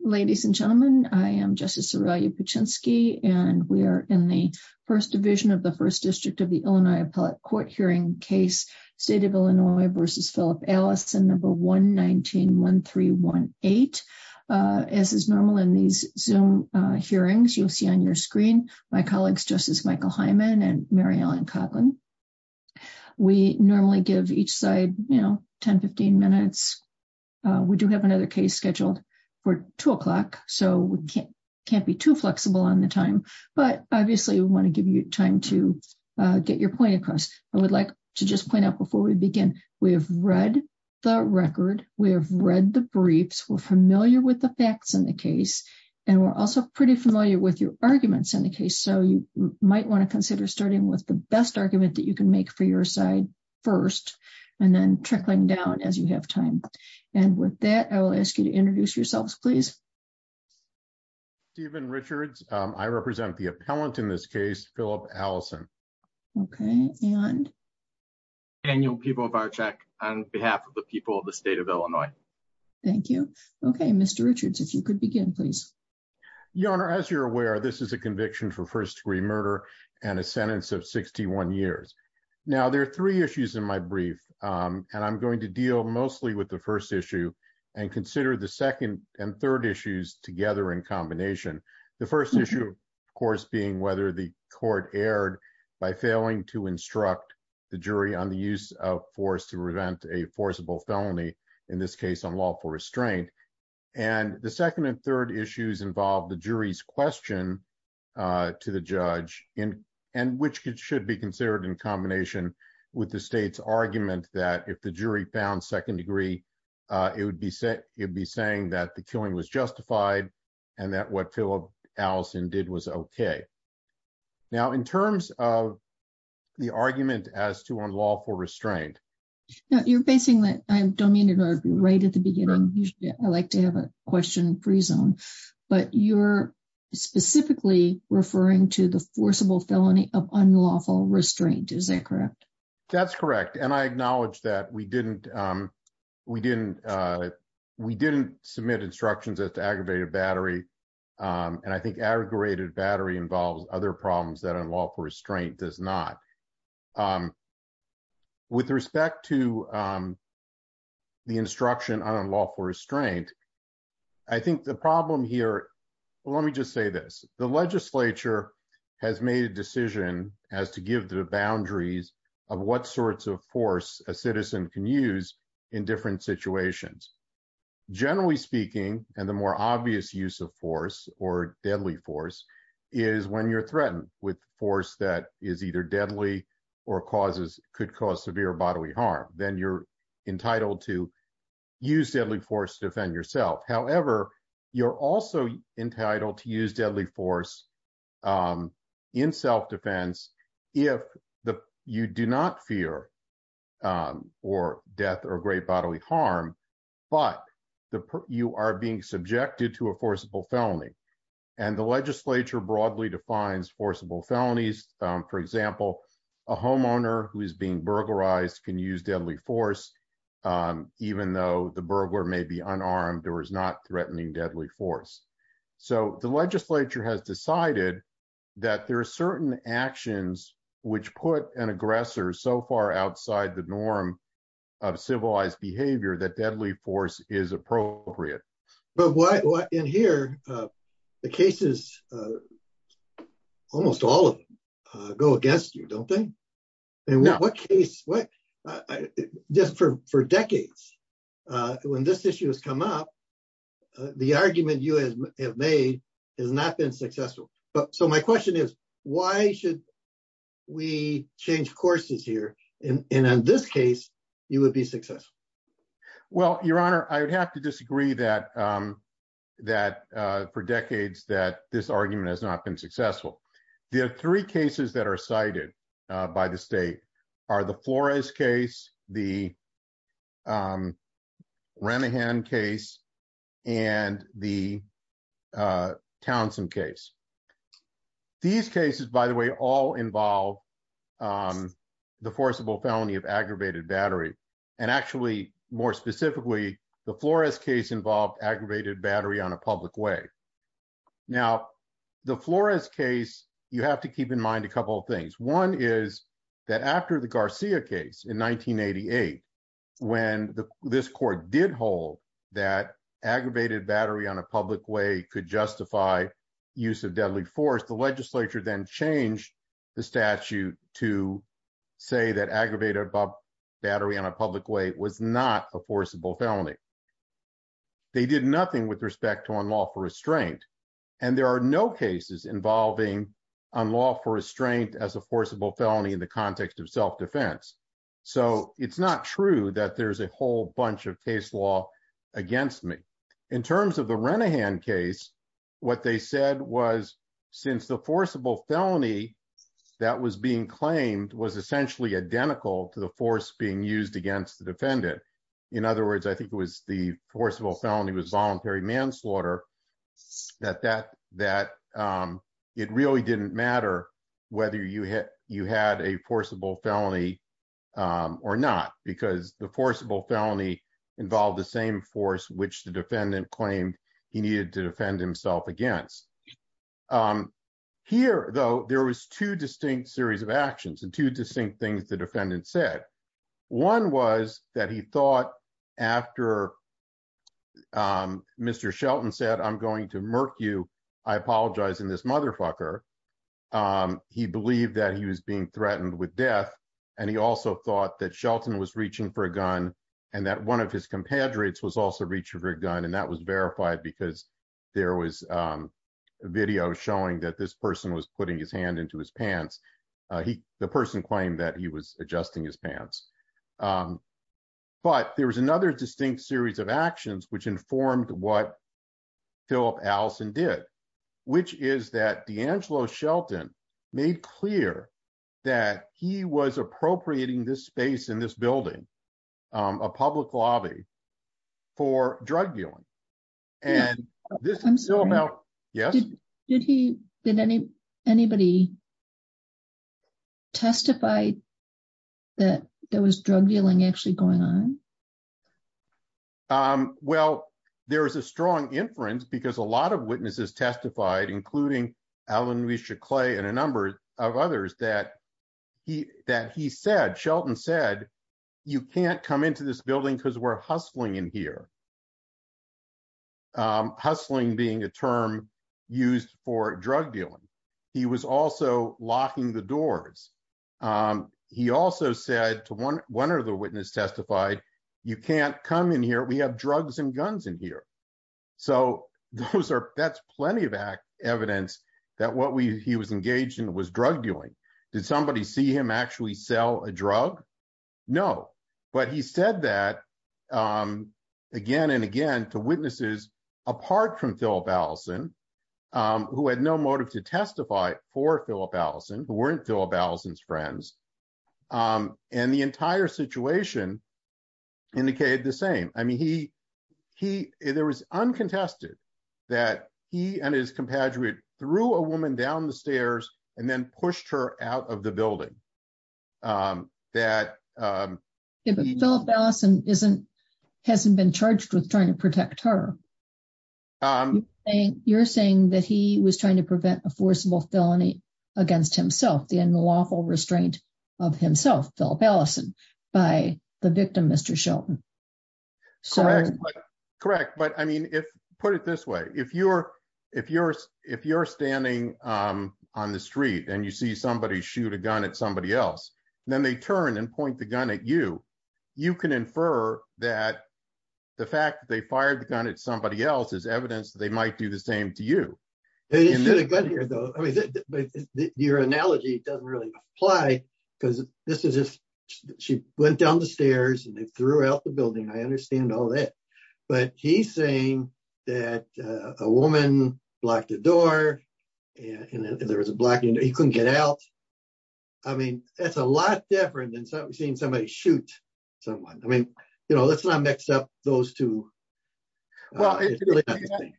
Ladies and gentlemen, I am Justice Sorelia Paczynski, and we are in the First Division of the First District of the Illinois Appellate Court hearing case, State of Illinois v. Philip Allison, No. 119-1318. As is normal in these Zoom hearings, you'll see on your screen my colleagues Justice Michael Hyman and Mary Ellen Kotlin. We normally give each side, you know, 15 minutes. We do have another case scheduled for two o'clock, so we can't be too flexible on the time. But obviously, we want to give you time to get your point across. I would like to just point out before we begin, we have read the record, we have read the briefs, we're familiar with the facts in the case, and we're also pretty familiar with your arguments in the case. So you might want to consider starting with the best argument that you can make for your side first, and then trickling down as you have time. And with that, I will ask you to introduce yourselves, please. Stephen Richards. I represent the appellant in this case, Philip Allison. Okay, and? Daniel Pibovarczyk on behalf of the people of the State of Illinois. Thank you. Okay, Mr. Richards, if you could begin, please. Your Honor, as you're aware, this is a conviction for first-degree murder and a sentence of 61 years. Now, there are three issues in my case. I'm going to deal mostly with the first issue and consider the second and third issues together in combination. The first issue, of course, being whether the court erred by failing to instruct the jury on the use of force to prevent a forcible felony, in this case, on lawful restraint. And the second and third issues involve the jury's question to the judge, and which should be considered in combination with the state's argument that if the jury found second degree, it would be saying that the killing was justified and that what Philip Allison did was okay. Now, in terms of the argument as to unlawful restraint. Now, you're basing that, I don't mean to interrupt you right at the beginning. Usually, I like to have a question pre-zone, but you're specifically referring to the forcible felony of unlawful restraint. Is that correct? That's correct. And I acknowledge that we didn't submit instructions as to aggravated battery. And I think aggravated battery involves other problems that unlawful restraint. I think the problem here, let me just say this. The legislature has made a decision as to give the boundaries of what sorts of force a citizen can use in different situations. Generally speaking, and the more obvious use of force or deadly force is when you're threatened with force that is either deadly or causes could cause severe bodily harm. Then you're entitled to use deadly force to defend yourself. However, you're also entitled to use deadly force in self-defense if you do not fear or death or great bodily harm, but you are being subjected to a forcible felony. And the legislature broadly defines forcible felonies. For example, a homeowner who is being burglarized can use deadly force, even though the burglar may be unarmed or is not threatening deadly force. So the legislature has decided that there are certain actions which put an aggressor so far outside the norm of civilized behavior that deadly force is appropriate. But what in here, the cases, almost all of them go against you, don't they? And what case, just for decades, when this issue has come up, the argument you have made has not been successful. So my question is, why should we change courses here? And in this case, you would be successful. Well, your honor, I would have to disagree that for decades that this argument has not been successful. There are three cases that are cited by the state are the Flores case, the Remihan case, and the Townsend case. These cases, by the way, all involve the forcible felony of aggravated battery. And actually, more specifically, the Flores case involved aggravated battery on a public way. Now, the Flores case, you have to keep in mind a couple of things. One is that after the Garcia case in 1988, when this court did hold that aggravated battery on a public way could justify use of deadly force, the legislature then changed the statute to say that aggravated battery on a public way was not a forcible felony. They did nothing with respect to unlawful restraint. And there are no cases involving unlawful restraint as a forcible felony in the context of self-defense. So it's not true that there's a whole bunch of case law against me. In terms of the Remihan case, what they said was since the forcible felony that was being claimed was essentially identical to the force being used against the defendant. In other words, I think it was the forcible felony was voluntary manslaughter that it really didn't matter whether you had a forcible felony or not because the forcible felony involved the same force which defendant claimed he needed to defend himself against. Here, though, there was two distinct series of actions and two distinct things the defendant said. One was that he thought after Mr. Shelton said, I'm going to murk you, I apologize in this motherfucker. He believed that he was being threatened with death. And he also thought that Shelton was reaching for a gun and that one of his compadres was also reaching for a gun. And that was verified because there was video showing that this person was putting his hand into his pants. The person claimed that he was adjusting his pants. But there was another distinct series of actions which informed what Philip Allison did, which is that DeAngelo Shelton made clear that he was appropriating this space in this building, a public lobby, for drug dealing. I'm sorry. Did anybody testify that there was drug dealing actually going on? Well, there is a strong inference because a lot of witnesses testified, including Alan Risha Clay and a number of others, that Shelton said, you can't come into this building because we're hustling in here. Hustling being a term used for drug dealing. He was also locking the doors. He also said to one of the witnesses testified, you can't come in here, we have drugs and guns in here. So that's plenty of evidence that what he was engaged in was drug dealing. Did somebody see him actually sell a drug? No. But he said that again and again to witnesses apart from Philip Allison, who had no motive to testify for Philip Allison, who weren't Philip Allison's friends. And the entire situation indicated the same. I mean, there was uncontested that he and his compadre threw a woman down the stairs and then pushed her out of the building. But Philip Allison hasn't been charged with trying to protect her. You're saying that he was trying to prevent a forcible felony against himself, the unlawful restraint of himself, Philip Allison, by the victim, Mr. Shelton. Correct. But I mean, put it this way. If you're standing on the street and you see somebody shoot a gun at somebody else, then they turn and point the gun at you. You can infer that the fact that they fired the gun at somebody else is evidence that they might do the same to you. Your analogy doesn't really apply because this is just she went down the stairs and they threw out the building. I understand all that. But he's saying that a woman blocked the door and there was a black man. He couldn't get out. I mean, that's a lot different than seeing somebody shoot someone. I mean, let's not mix up those two. But the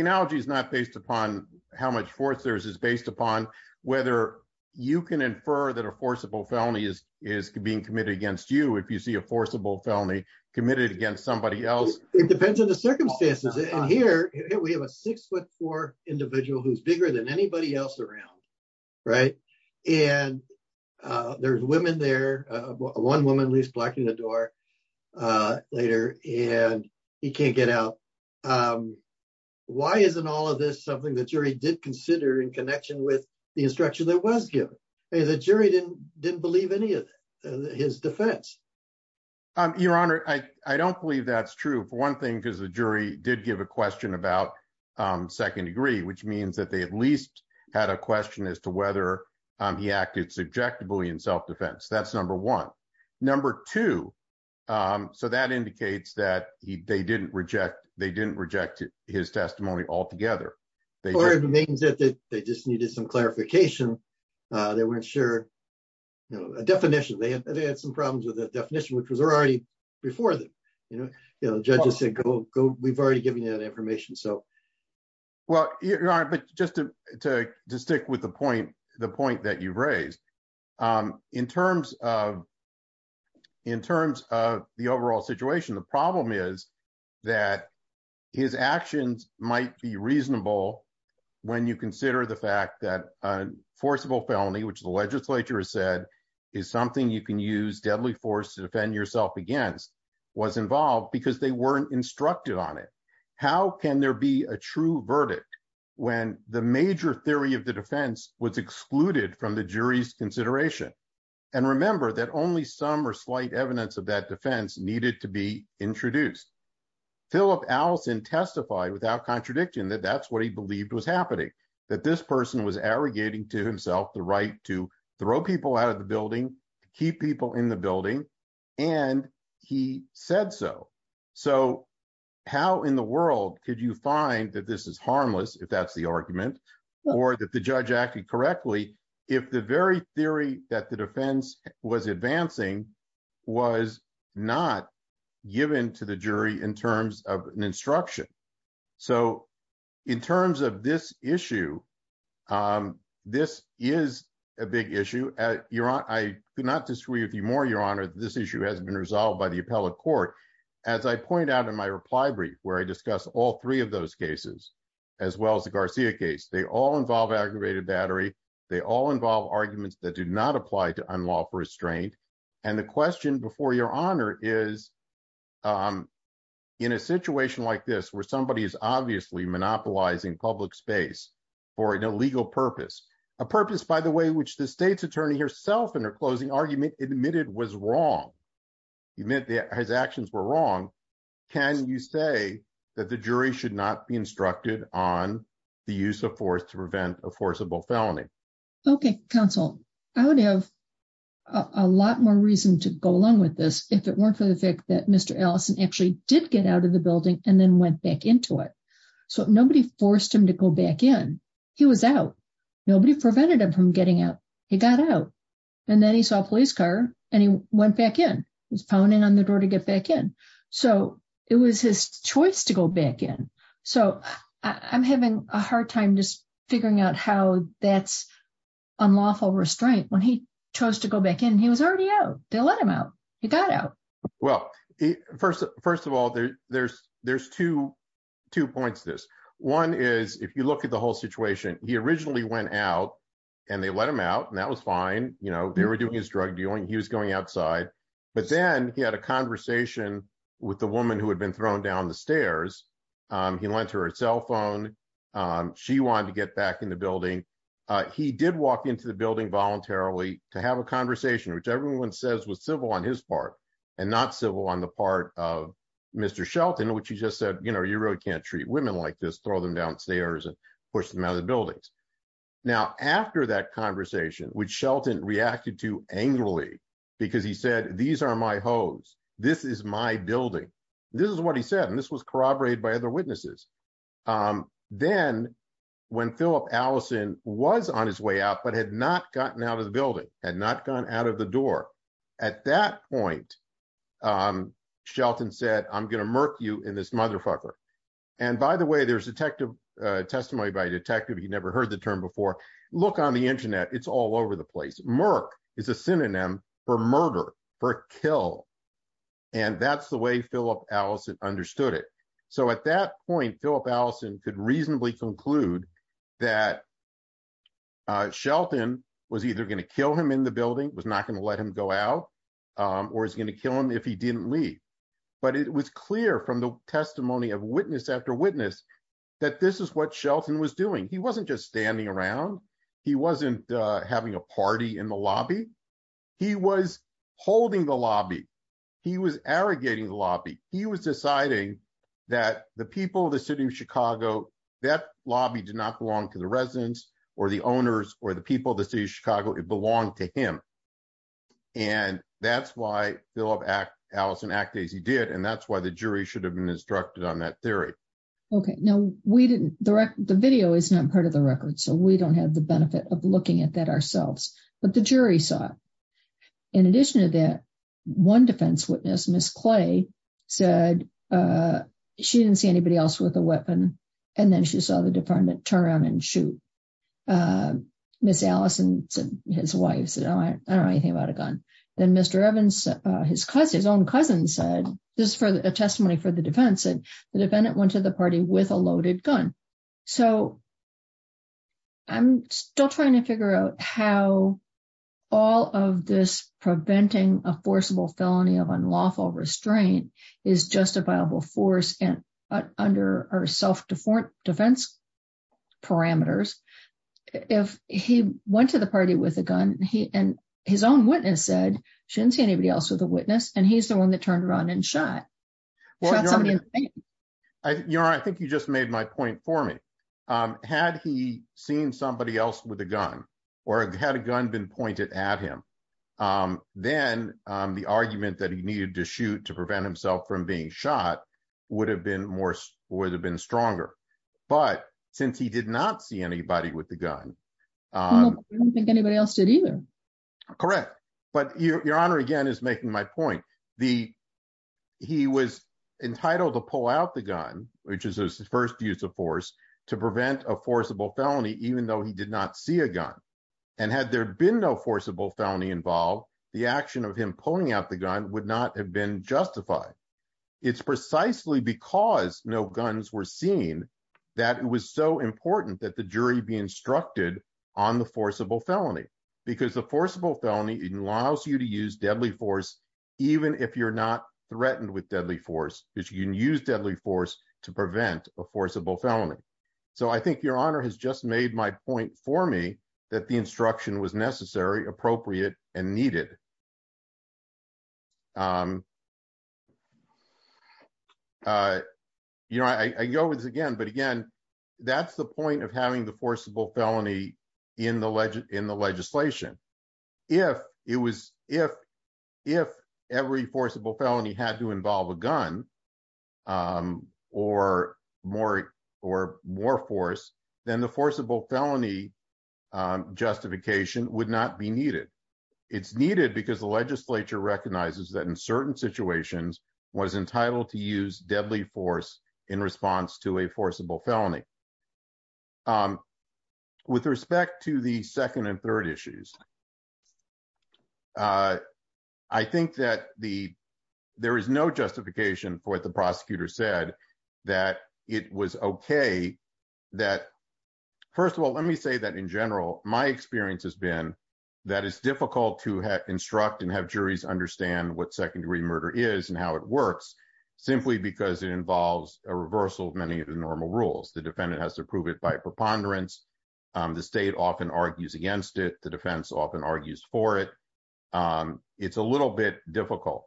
analogy is not based upon how much force there is. It's based upon whether you can infer that a forcible felony is being committed against you if you see a forcible felony committed against somebody else. It depends on the circumstances. And here we have a six foot four individual who's bigger than anybody else around. Right. And there's women there. One woman leaves blocking the door later and he can't get out. Why isn't all of this something the jury did consider in connection with the instruction that was given? The jury didn't didn't believe any of his defense. Your Honor, I don't believe that's true, for one thing, because the jury did give a question about second degree, which means that they at least had a question as to whether he acted subjectively in self-defense. That's number one. Number two. So that indicates that they didn't reject they didn't reject his testimony altogether. They or it means that they just needed some clarification. They weren't sure, you know, a definition. They had some problems with the definition, which was already before the judges said, go, go. We've already given you that information. So. Well, your Honor, but just to stick with the point, the point that you've raised in terms of in terms of the overall situation, the problem is that his actions might be reasonable when you consider the fact that a forcible felony, which the legislature has said is something you can use deadly force to defend yourself against, was involved because they weren't instructed on it. How can there be a true verdict when the major theory of the defense was excluded from the jury's consideration? And remember that only some or slight evidence of that defense needed to be introduced. Philip Allison testified without contradiction that that's what he believed was happening, that this person was arrogating to building to keep people in the building. And he said so. So how in the world could you find that this is harmless if that's the argument or that the judge acted correctly if the very theory that the defense was advancing was not given to the jury in terms of an instruction. So in terms of this issue, this is a big issue. Your Honor, I could not disagree with you more, your Honor, this issue hasn't been resolved by the appellate court. As I point out in my reply brief where I discuss all three of those cases, as well as the Garcia case, they all involve aggravated battery. They all involve arguments that do not apply to unlawful restraint. And the question before your Honor is in a situation like this where somebody is obviously monopolizing public space for an illegal purpose, a purpose, by the way, which the state's attorney herself in her closing argument admitted was wrong. He meant that his actions were wrong. Can you say that the jury should not be instructed on the use of force to prevent a forcible felony? Okay, counsel, I would have a lot more reason to go along with this if it weren't for the fact that Mr. Allison actually did get out of the building and then went back into it. So nobody forced him to go back in. He was out. Nobody prevented him from getting out. He got out. And then he saw a police car and he went back in. He's pounding on the door to get back in. So it was his choice to go back in. So I'm having a hard time just figuring out how that's unlawful restraint when he chose to go back in. He was already out. They let him out. He got out. Well, first of all, there's two points to this. One is if you look at the whole situation, he originally went out and they let him out and that was fine. They were doing his drug dealing. He was going outside. But then he had a conversation with the woman who had been thrown down the stairs. He lent her a cell phone. She wanted to get back in the building. He did walk into the building voluntarily to have a conversation, which everyone says was civil on his part and not civil on the part of Mr. Shelton, which he just said, you know, you really can't treat women like this, throw them downstairs and push them out of the buildings. Now, after that conversation, which Shelton reacted to This is what he said, and this was corroborated by other witnesses. Then when Philip Allison was on his way out, but had not gotten out of the building and not gone out of the door at that point, Shelton said, I'm going to murk you in this motherfucker. And by the way, there's a testimony by a detective. He never heard the term before. Look on the Internet. It's all over the place. Murk is a synonym for murder, for kill. And that's the way Philip Allison understood it. So at that point, Philip Allison could reasonably conclude that Shelton was either going to kill him in the building, was not going to let him go out or is going to kill him if he didn't leave. But it was clear from the testimony of witness after witness that this is what Shelton was doing. He wasn't just standing around. He wasn't having a He was arrogating the lobby. He was deciding that the people of the city of Chicago, that lobby did not belong to the residents or the owners or the people of the city of Chicago. It belonged to him. And that's why Philip Allison acted as he did. And that's why the jury should have been instructed on that theory. OK, no, we didn't. The video is not part of the record, so we don't have the One defense witness, Miss Clay, said she didn't see anybody else with a weapon and then she saw the department turn around and shoot Miss Allison. His wife said, oh, I don't know anything about a gun. Then Mr. Evans, his cousin, his own cousin, said this for a testimony for the defense. And the defendant went to the party with a loaded gun. So. I'm still trying to figure out how all of this preventing a forcible felony of unlawful restraint is justifiable force and under our self-defense parameters. If he went to the party with a gun and his own witness said she didn't see anybody else with a witness and he's the one that turned around and shot. You know, I think you just made my point for me. Had he seen somebody else with a gun or had a gun been pointed at him, then the argument that he needed to shoot to prevent himself from being shot would have been more would have been stronger. But since he did not see anybody with the gun, I don't think anybody else did either. Correct. But your honor, again, is making my point. The. He was entitled to pull out the gun, which is his first use of force to prevent a forcible felony, even though he did not see a gun. And had there been no forcible felony involved, the action of him pulling out the gun would not have been justified. It's precisely because no guns were seen that it was so important that the jury be instructed on the forcible felony, because the forcible felony allows you to use deadly force, even if you're not threatened with deadly force, which you can use deadly force to prevent a forcible felony. So I think your honor has just made my point for me that the instruction was necessary, appropriate and needed. You know, I go with this again, but again, that's the point of having the forcible felony in the in the legislation. If it was if if every forcible felony had to involve a gun or more or more force, then the forcible felony justification would not be needed. It's needed because the legislature recognizes that in certain situations was entitled to use deadly force in response to a forcible felony. With respect to the second and third issues. I think that the there is no justification for what the prosecutor said that it was OK that first of all, let me say that in general, my experience has been that it's difficult to have instruct and have juries understand what second degree murder is and how it works, simply because it involves a reversal of many of the normal rules. The defendant has to prove it preponderance. The state often argues against it. The defense often argues for it. It's a little bit difficult.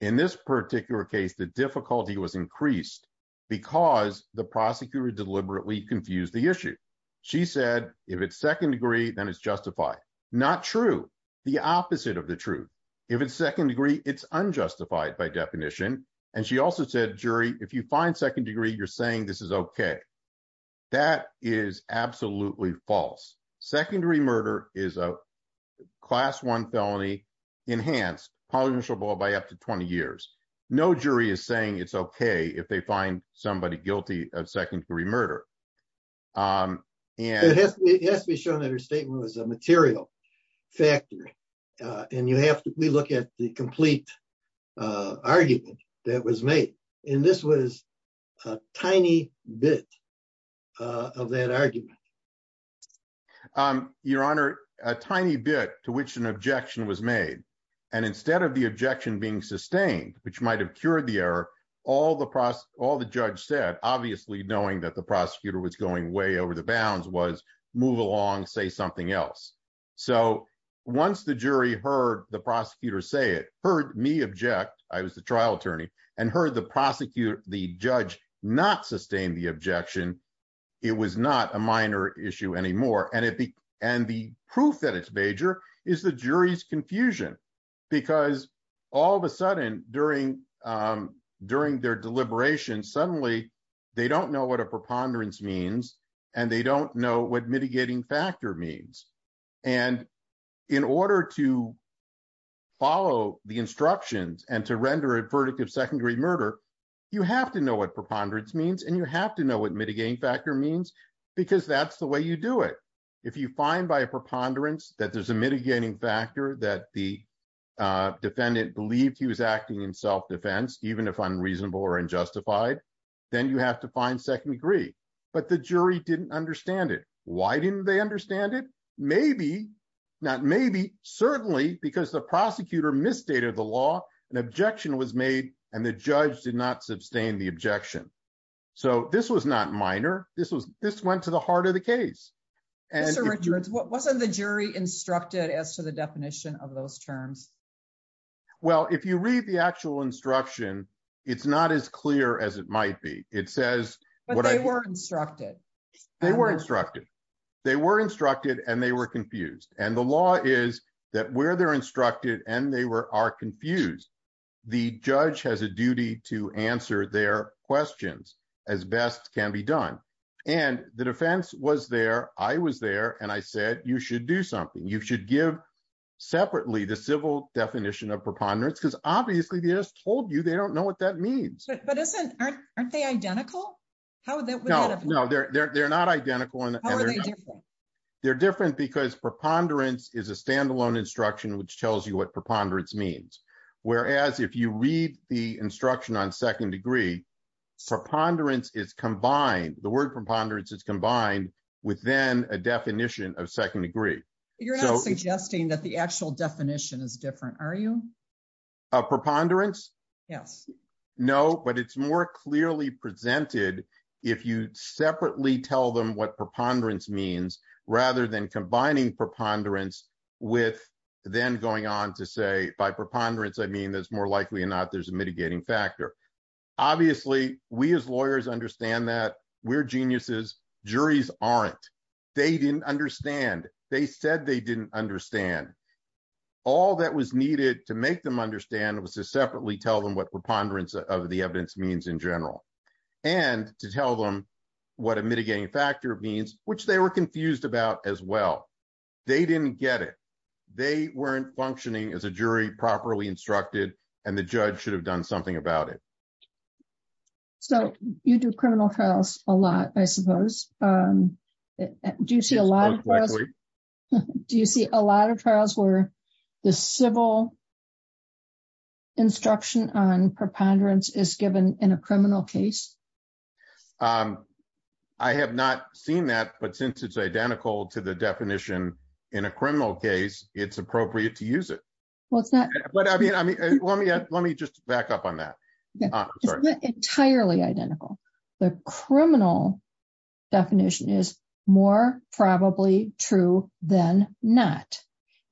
In this particular case, the difficulty was increased because the prosecutor deliberately confused the issue. She said, if it's second degree, then it's justified. Not true. The opposite of the truth. If it's second degree, it's unjustified by definition. And she also said, jury, if you find second degree, you're saying this is OK. That is absolutely false. Secondary murder is a class one felony enhanced by up to 20 years. No jury is saying it's OK if they find somebody guilty of secondary murder. And it has to be shown that her statement was a material factor. And you have to look at the effect of that argument. Your Honor, a tiny bit to which an objection was made. And instead of the objection being sustained, which might have cured the error, all the judge said, obviously knowing that the prosecutor was going way over the bounds, was move along, say something else. So once the jury heard the prosecutor say it, heard me object, I was the objection. It was not a minor issue anymore. And the proof that it's major is the jury's confusion, because all of a sudden during their deliberation, suddenly they don't know what a preponderance means and they don't know what mitigating factor means. And in order to follow the instructions and to render a verdict of secondary murder, you have to know what preponderance means and you have to know what mitigating factor means, because that's the way you do it. If you find by a preponderance that there's a mitigating factor, that the defendant believed he was acting in self-defense, even if unreasonable or unjustified, then you have to find second degree. But the jury didn't understand it. Why didn't they understand it? Maybe, not maybe, certainly because the prosecutor misstated the law, an objection was made, and the judge did not sustain the objection. So this was not minor. This went to the heart of the case. Mr. Richards, wasn't the jury instructed as to the definition of those terms? Well, if you read the actual instruction, it's not as clear as it might be. It says- But they were instructed. They were instructed. They were instructed and they were confused. And the law is that where they're instructed and they are confused, the judge has a duty to answer their questions, as best can be done. And the defense was there. I was there and I said, you should do something. You should give separately the civil definition of preponderance, because obviously they just told you they don't know what that means. But aren't they identical? No, they're not identical. How are they different? They're different because preponderance is a standalone instruction, which tells you what preponderance means. Whereas if you read the instruction on second degree, preponderance is combined. The word preponderance is combined with then a definition of second degree. You're not suggesting that the actual definition is different, are you? Of preponderance? Yes. No, but it's more clearly presented if you separately tell them what preponderance means rather than combining preponderance with then going on to say, by preponderance, I mean, there's more likely or not there's a mitigating factor. Obviously, we as lawyers understand that we're geniuses. Juries aren't. They didn't understand. They said they didn't understand. All that was needed to make them understand was to separately tell them what preponderance of the evidence means in general, and to tell them what a mitigating factor means, which they were confused about as well. They didn't get it. They weren't functioning as a jury properly instructed, and the judge should have done something about it. So you do criminal trials a lot, I suppose. Do you see a lot of trials where the civil instruction on preponderance is given in a criminal case? I have not seen that, but since it's identical to the definition in a criminal case, it's appropriate to use it. Let me just back up on that. It's not entirely identical. The criminal definition is more probably true than not,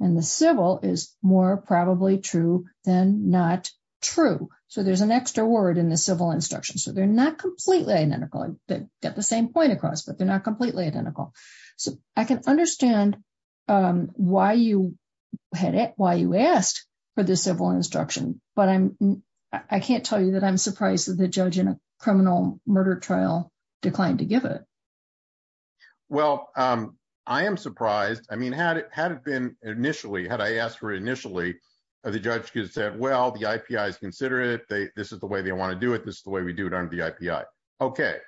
and the civil is more probably true than not true. So there's an extra word in the civil instruction. So they're not completely identical. They get the same point across, but they're not completely identical. So I can understand why you asked for the civil instruction, but I can't tell you that I'm surprised that the judge in a criminal murder trial declined to give it. Well, I am surprised. Had I asked for it initially, the judge could have said, well, the IPI is considerate. This is the way they want to do it. This is the way we do it under the IPI. Okay.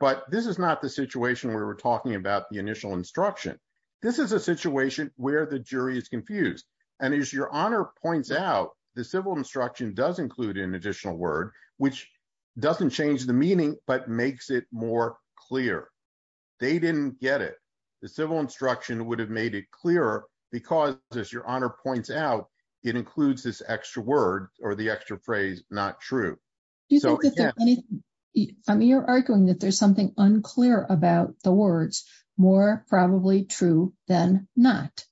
But this is not the situation where we're talking about the initial instruction. This is a situation where the jury is confused. And as your honor points out, the civil instruction does include an additional word, which doesn't change the meaning, but makes it more clear. They didn't get it. The civil instruction would have made it clearer because as your honor points out, it includes this extra word or the extra phrase, not true. Do you think that there's anything, I mean, you're arguing that there's something unclear about the words, more probably true than not.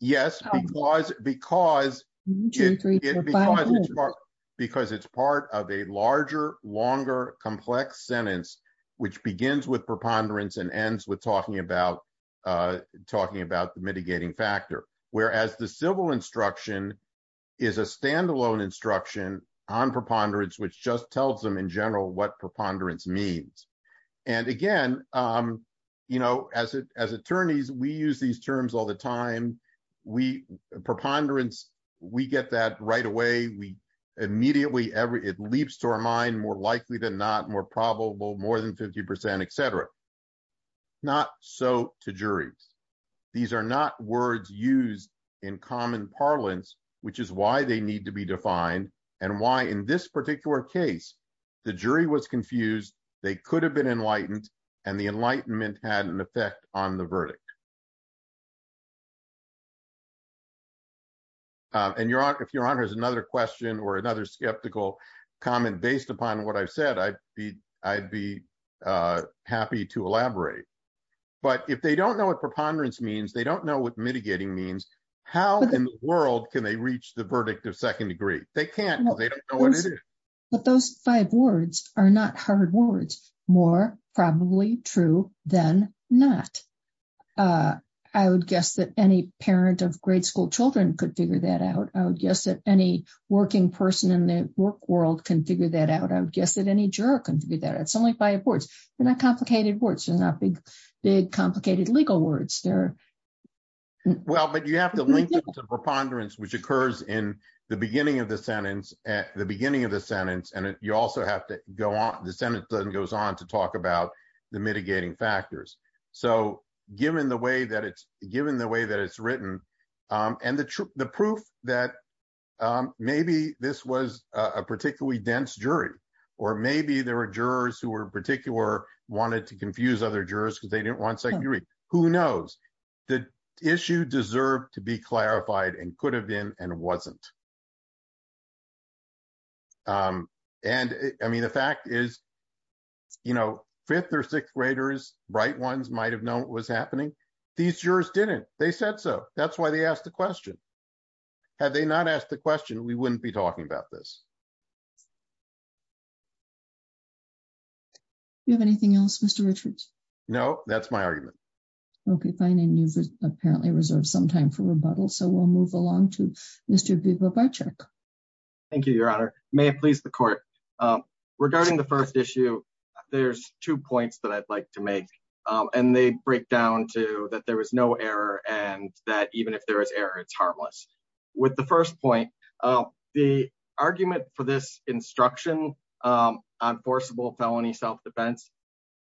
Yes, because it's part of a larger, longer, complex sentence, which begins with preponderance and ends with talking about mitigating factor. Whereas the civil instruction is a standalone instruction on preponderance, which just tells them in general what preponderance means. And again, as attorneys, we use these terms all the time. We, preponderance, we get that right away. We, immediately, it leaps to our mind, more likely than not, more probable, more than 50%, et cetera. Not so to juries. These are not words used in common parlance, which is why they need to be defined and why in this particular case, the jury was confused. They could have been enlightened and the enlightenment had an effect on the verdict. And if your honor has another question or another skeptical comment based upon what I've said, I'd be happy to elaborate. But if they don't know what preponderance means, they don't know what mitigating means, how in the world can they reach the verdict of second degree? They can't because they don't know what it is. But those five words are not hard words, more probably true than not. I would guess that any parent of grade school children could figure that out. I would guess that any working person in the work world can figure that out. I would guess that any juror can figure that out. It's only five words. They're not complicated words. They're not big, big, complicated legal words. They're- Well, but you have to link it to preponderance, which occurs in the beginning of the sentence and you also have to go on. The sentence then goes on to talk about the mitigating factors. So given the way that it's written and the proof that maybe this was a particularly dense jury, or maybe there were jurors who were in particular wanted to confuse other jurors because they didn't want second degree, who knows? The issue deserved to be clarified and could have been and wasn't. I mean, the fact is, fifth or sixth graders, right ones might have known what was happening. These jurors didn't. They said so. That's why they asked the question. Had they not asked the question, we wouldn't be talking about this. Do you have anything else, Mr. Richards? No, that's my argument. Okay, fine. And you've apparently reserved some time for rebuttal. So we'll move along to Mr. Bibow-Baczek. Thank you, Your Honor. May it please the court. Regarding the first issue, there's two points that I'd like to make. And they break down to that there was no error and that even if there is error, it's harmless. With the first point, the argument for this instruction on forcible felony self-defense,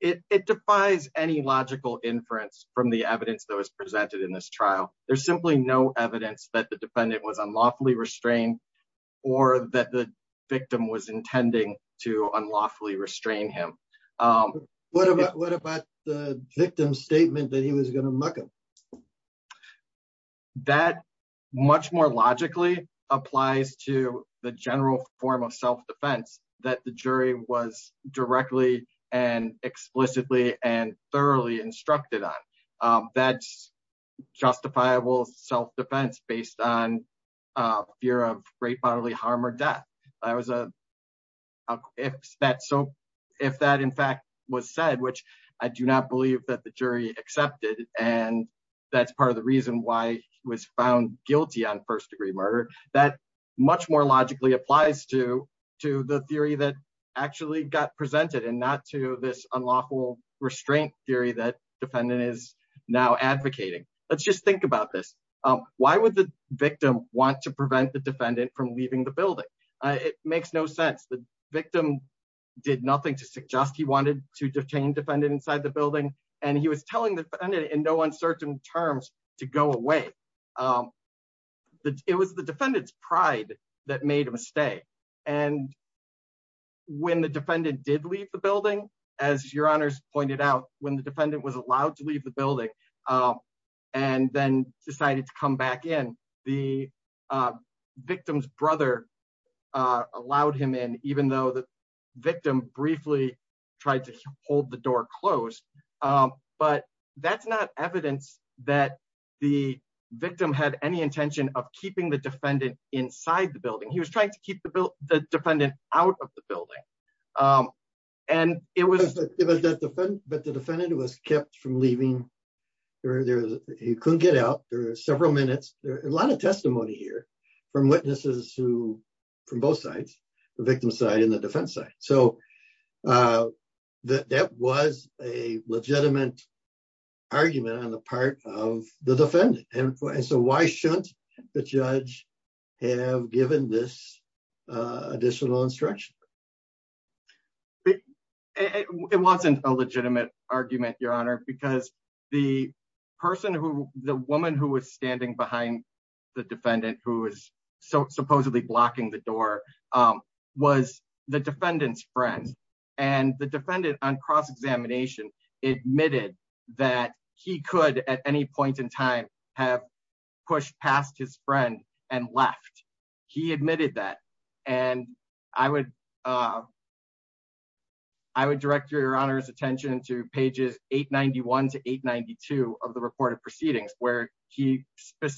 it defies any logical inference from the evidence that was presented in this trial. There's simply no evidence that the defendant was unlawfully restrained or that the victim was intending to unlawfully restrain him. What about the victim's statement that he was going to muck him? Okay. That much more logically applies to the general form of self-defense that the jury was directly and explicitly and thoroughly instructed on. That's justifiable self-defense based on fear of great bodily harm or death. If that in fact was said, which I do not believe that the that's part of the reason why he was found guilty on first degree murder, that much more logically applies to the theory that actually got presented and not to this unlawful restraint theory that defendant is now advocating. Let's just think about this. Why would the victim want to prevent the defendant from leaving the building? It makes no sense. The victim did nothing to suggest he to go away. It was the defendant's pride that made a mistake. When the defendant did leave the building, as your honors pointed out, when the defendant was allowed to leave the building and then decided to come back in, the victim's brother allowed him in, even though the that the victim had any intention of keeping the defendant inside the building. He was trying to keep the defendant out of the building. The defendant was kept from leaving. He couldn't get out. There are several minutes. There's a lot of testimony here from witnesses from both sides, the victim's side and the defense side. So that was a legitimate argument on the part of the defendant. And so why shouldn't the judge have given this additional instruction? It wasn't a legitimate argument, your honor, because the person who the woman who was standing behind the defendant who was supposedly blocking the door was the defendant's friend. And the defendant on cross-examination admitted that he could at any point in time have pushed past his friend and left. He admitted that. And I would direct your honor's attention to pages 891 to 892 of the report of proceedings where he says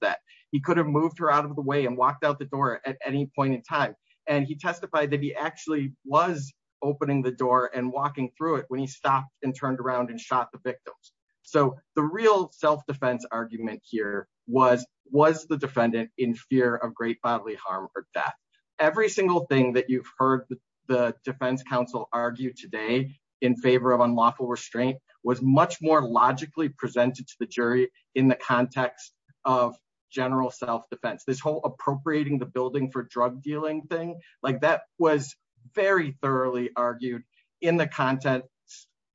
that he could have moved her out of the way and walked out the door at any point in time. And he testified that he actually was opening the door and walking through it when he stopped and turned around and shot the victims. So the real self-defense argument here was, was the defendant in fear of great bodily harm or death. Every single thing that you've heard the defense counsel argue today in favor of unlawful restraint was much more logically presented to the jury in the context of general self-defense. This whole appropriating the building for drug dealing thing, like that was very thoroughly argued in the content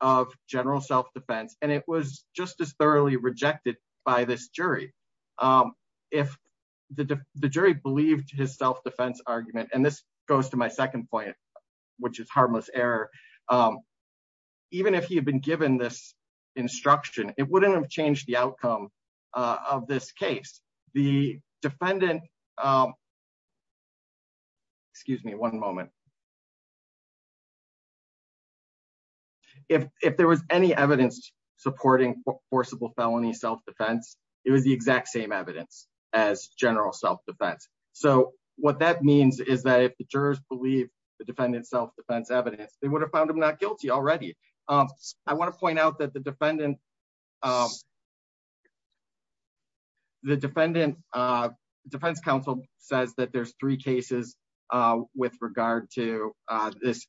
of general self-defense. And it was just as thoroughly rejected by this jury. If the jury believed his self-defense argument, and this goes to my second point, which is harmless error. Even if he had been given this instruction, it wouldn't have changed the outcome of this case. The defendant, excuse me one moment. If there was any evidence supporting forcible felony self-defense, it was the exact same as general self-defense. So what that means is that if the jurors believe the defendant self-defense evidence, they would have found him not guilty already. I want to point out that the defendant, the defendant defense counsel says that there's three cases with regard to this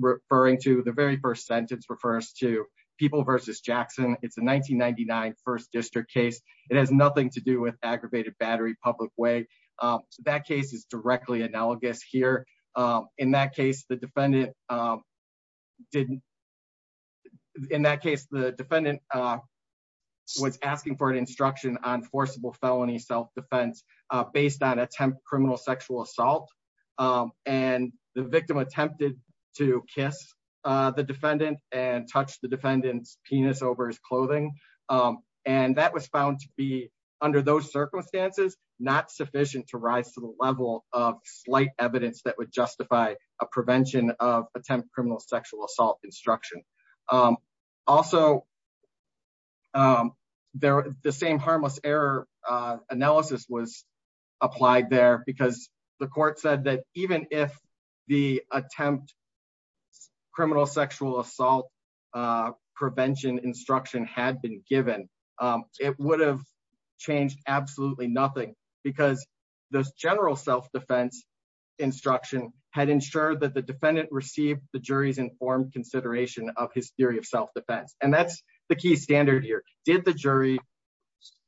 referring to the very first sentence refers to people versus Jackson. It's a 1999 first district case. It has nothing to do with aggravated battery public way. So that case is directly analogous here. In that case, the defendant was asking for an instruction on forcible felony self-defense based on attempt criminal sexual assault. And the victim attempted to kiss the defendant and touch the defendant's penis over his clothing. And that was found to be under those circumstances, not sufficient to rise to the level of slight evidence that would justify a prevention of criminal sexual assault instruction. Also the same harmless error analysis was applied there because the court said that even if the attempt criminal sexual assault prevention instruction had been given, it would have changed absolutely nothing because those jurors informed consideration of his theory of self-defense. And that's the key standard here. Did the jury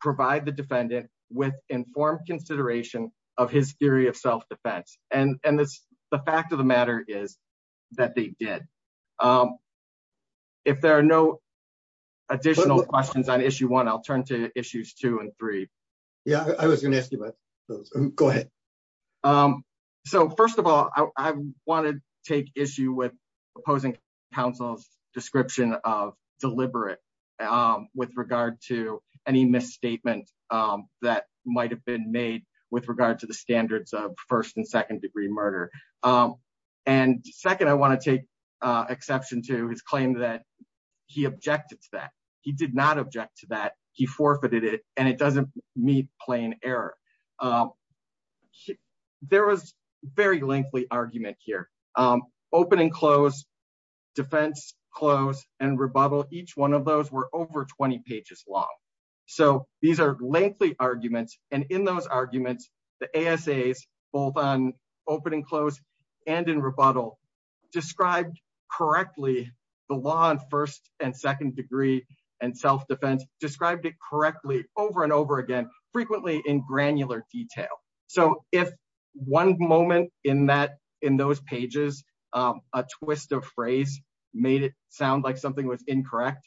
provide the defendant with informed consideration of his theory of self-defense? And the fact of the matter is that they did. If there are no additional questions on issue one, I'll turn to issues two and three. Yeah, I was going to ask you about those. Go ahead. So first of all, I want to take issue with opposing counsel's description of deliberate with regard to any misstatement that might've been made with regard to the standards of first and second degree murder. And second, I want to take exception to his claim that he objected to that. He did not object to that. He forfeited it and it doesn't meet plain error. There was very lengthy argument here. Open and close, defense, close and rebuttal. Each one of those were over 20 pages long. So these are lengthy arguments. And in those arguments, the ASAs both on open and close and in rebuttal described correctly the law and first and second degree and self-defense described it correctly over and over again, frequently in granular detail. So if one moment in that, in those pages, a twist of phrase made it sound like something was incorrect,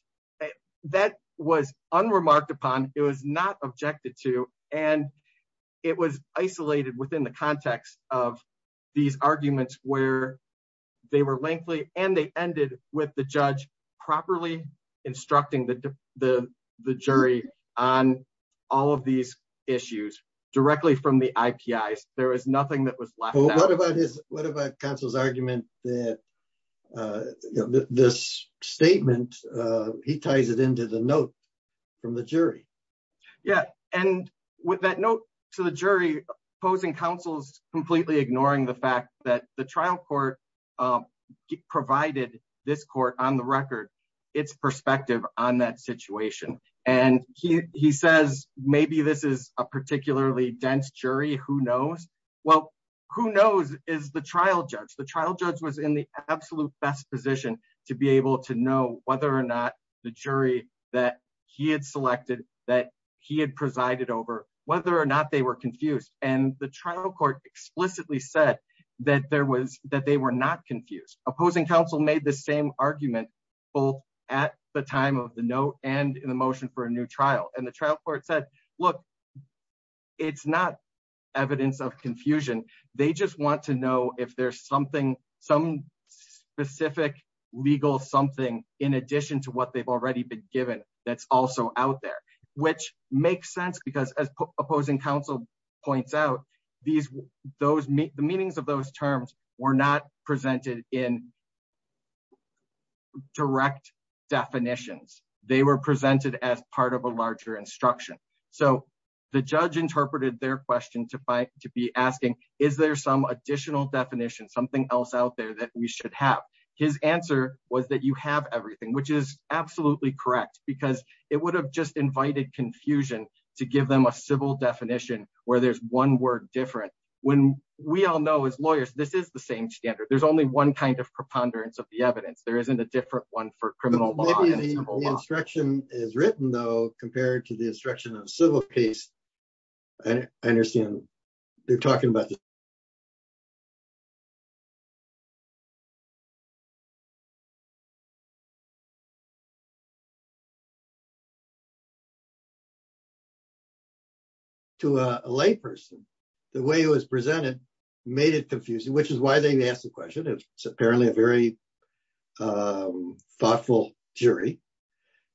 that was unremarked upon. It was not objected to, and it was isolated within the context of these arguments where they were lengthy and they ended with the judge properly instructing the jury on all of these issues directly from the IPIs. There was nothing that was left out. What about counsel's argument that this statement, he ties it into the note from the jury. Yeah. And with that note to the jury, opposing counsel's completely ignoring the fact that the trial court provided this court on the record, its perspective on that situation. And he says, maybe this is a particularly dense jury. Who knows? Well, who knows is the trial judge. The trial judge was in the absolute best position to be able to know whether or not the jury that he had selected that he had presided over, whether or not they were confused. And the trial court explicitly said that there was, that they were not confused. Opposing counsel made the same argument both at the time of the note and in the motion for a new trial. And the trial court said, look, it's not evidence of confusion. They just want to know if there's something, some specific legal, something in addition to what they've already been given that's also out there, which makes sense because as opposing counsel points out these, those meetings, the meanings of those terms were not presented in direct definitions. They were presented as part of a larger instruction. So the judge interpreted their question to fight, to be asking, is there some additional definition, something else out there that we should have? His answer was that you have everything, which is absolutely correct because it would have just invited confusion to give them a civil definition where there's one word different. When we all know as lawyers, this is the same standard. There's only one kind of preponderance of the evidence. There isn't a different one for criminal law. Maybe the instruction is written though, compared to the instruction of civil case. I understand they're To a lay person, the way it was presented made it confusing, which is why they asked the question. It's apparently a very thoughtful jury.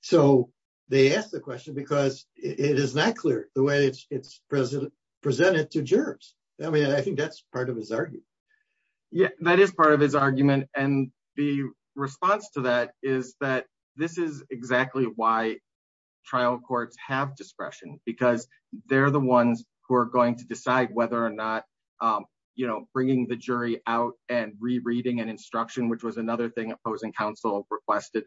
So they asked the question because it is not clear the it's presented to jurors. I mean, I think that's part of his argument. Yeah, that is part of his argument. And the response to that is that this is exactly why trial courts have discretion because they're the ones who are going to decide whether or not, you know, bringing the jury out and rereading an instruction, which was another thing opposing counsel requested,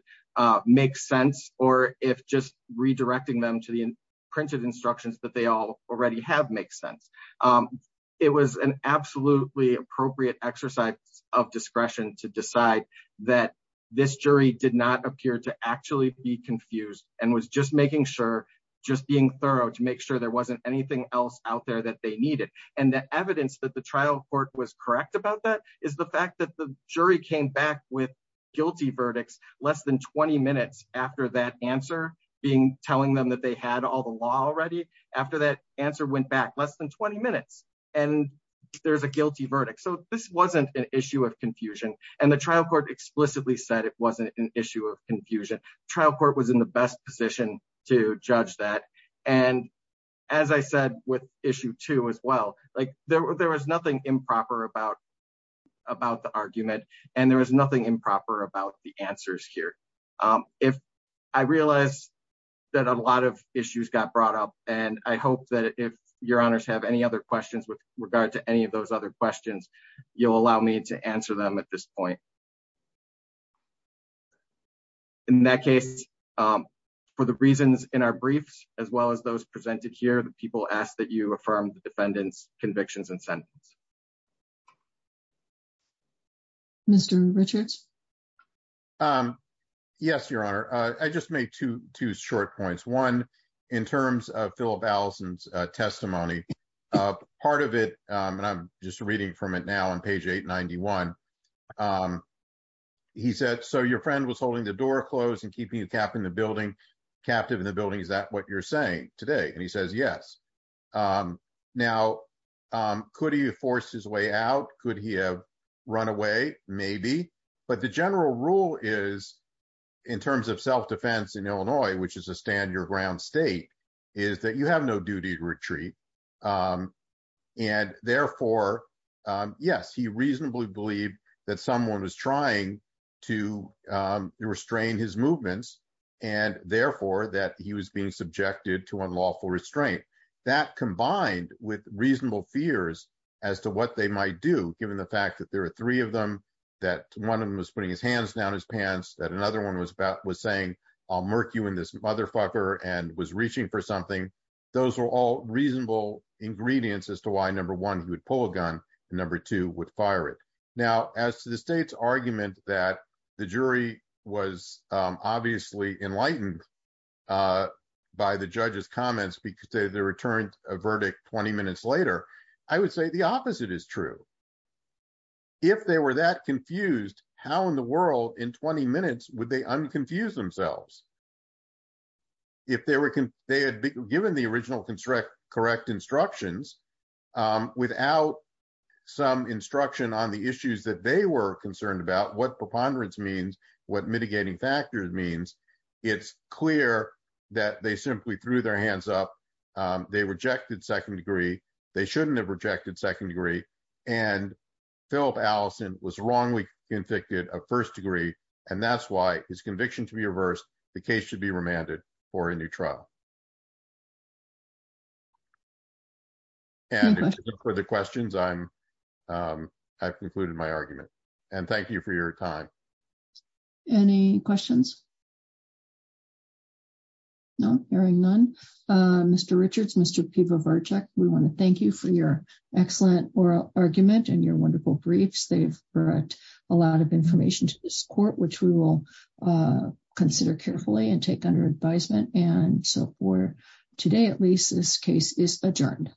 makes sense. Or if just redirecting them to the printed instructions that they all already have makes sense. It was an absolutely appropriate exercise of discretion to decide that this jury did not appear to actually be confused and was just making sure, just being thorough to make sure there wasn't anything else out there that they needed. And the evidence that the trial court was correct about that is the fact that the jury came back with guilty verdicts less than 20 minutes after that answer, being telling them that they had all the law already, after that answer went back less than 20 minutes. And there's a guilty verdict. So this wasn't an issue of confusion. And the trial court explicitly said it wasn't an issue of confusion. Trial court was in the best position to judge that. And as I said, with issue two as well, like there was nothing improper about the argument, and there was nothing improper about the answers here. If I realize that a lot of issues got brought up, and I hope that if your honors have any other questions with regard to any of those other questions, you'll allow me to answer them at this point. In that case, for the reasons in our briefs, as well as those presented here, the people asked you affirm the defendant's convictions and sentence. Mr. Richards? Yes, your honor. I just made two short points. One, in terms of Philip Allison's testimony, part of it, and I'm just reading from it now on page 891, he said, so your friend was holding the door closed and keeping the cap in the building, captive in the building. Is that what you're saying today? And he says, yes. Now, could he have forced his way out? Could he have run away? Maybe. But the general rule is, in terms of self-defense in Illinois, which is a stand your ground state, is that you have no duty to retreat. And therefore, yes, he reasonably believed that someone was trying to restrain his movements, and therefore, that he was being subjected to unlawful restraint. That combined with reasonable fears as to what they might do, given the fact that there are three of them, that one of them was putting his hands down his pants, that another one was saying, I'll murk you in this motherfucker, and was reaching for something. Those were all reasonable ingredients as to why, number one, he would pull a gun, and number two, would fire it. Now, as to the state's argument that the jury was obviously enlightened by the judge's comments, because they returned a verdict 20 minutes later, I would say the opposite is true. If they were that confused, how in the world, in 20 minutes, would they unconfuse themselves? If they had given the original correct instructions without some instruction on the issues that they were concerned about, what preponderance means, what mitigating factors means, it's clear that they simply threw their hands up. They rejected second degree. They shouldn't have rejected second degree. And Philip Allison was wrongly convicted of first degree, and that's why his conviction to be reversed, the case should be remanded for a new trial. And for the questions, I've concluded my argument. And thank you for your time. Any questions? No, hearing none. Mr. Richards, Mr. Pivo Virchak, we want to thank you for your excellent oral argument and your wonderful briefs. They've brought a lot of information to this court, which we will consider carefully and take under advisement. And so for today, at least, this case is adjourned.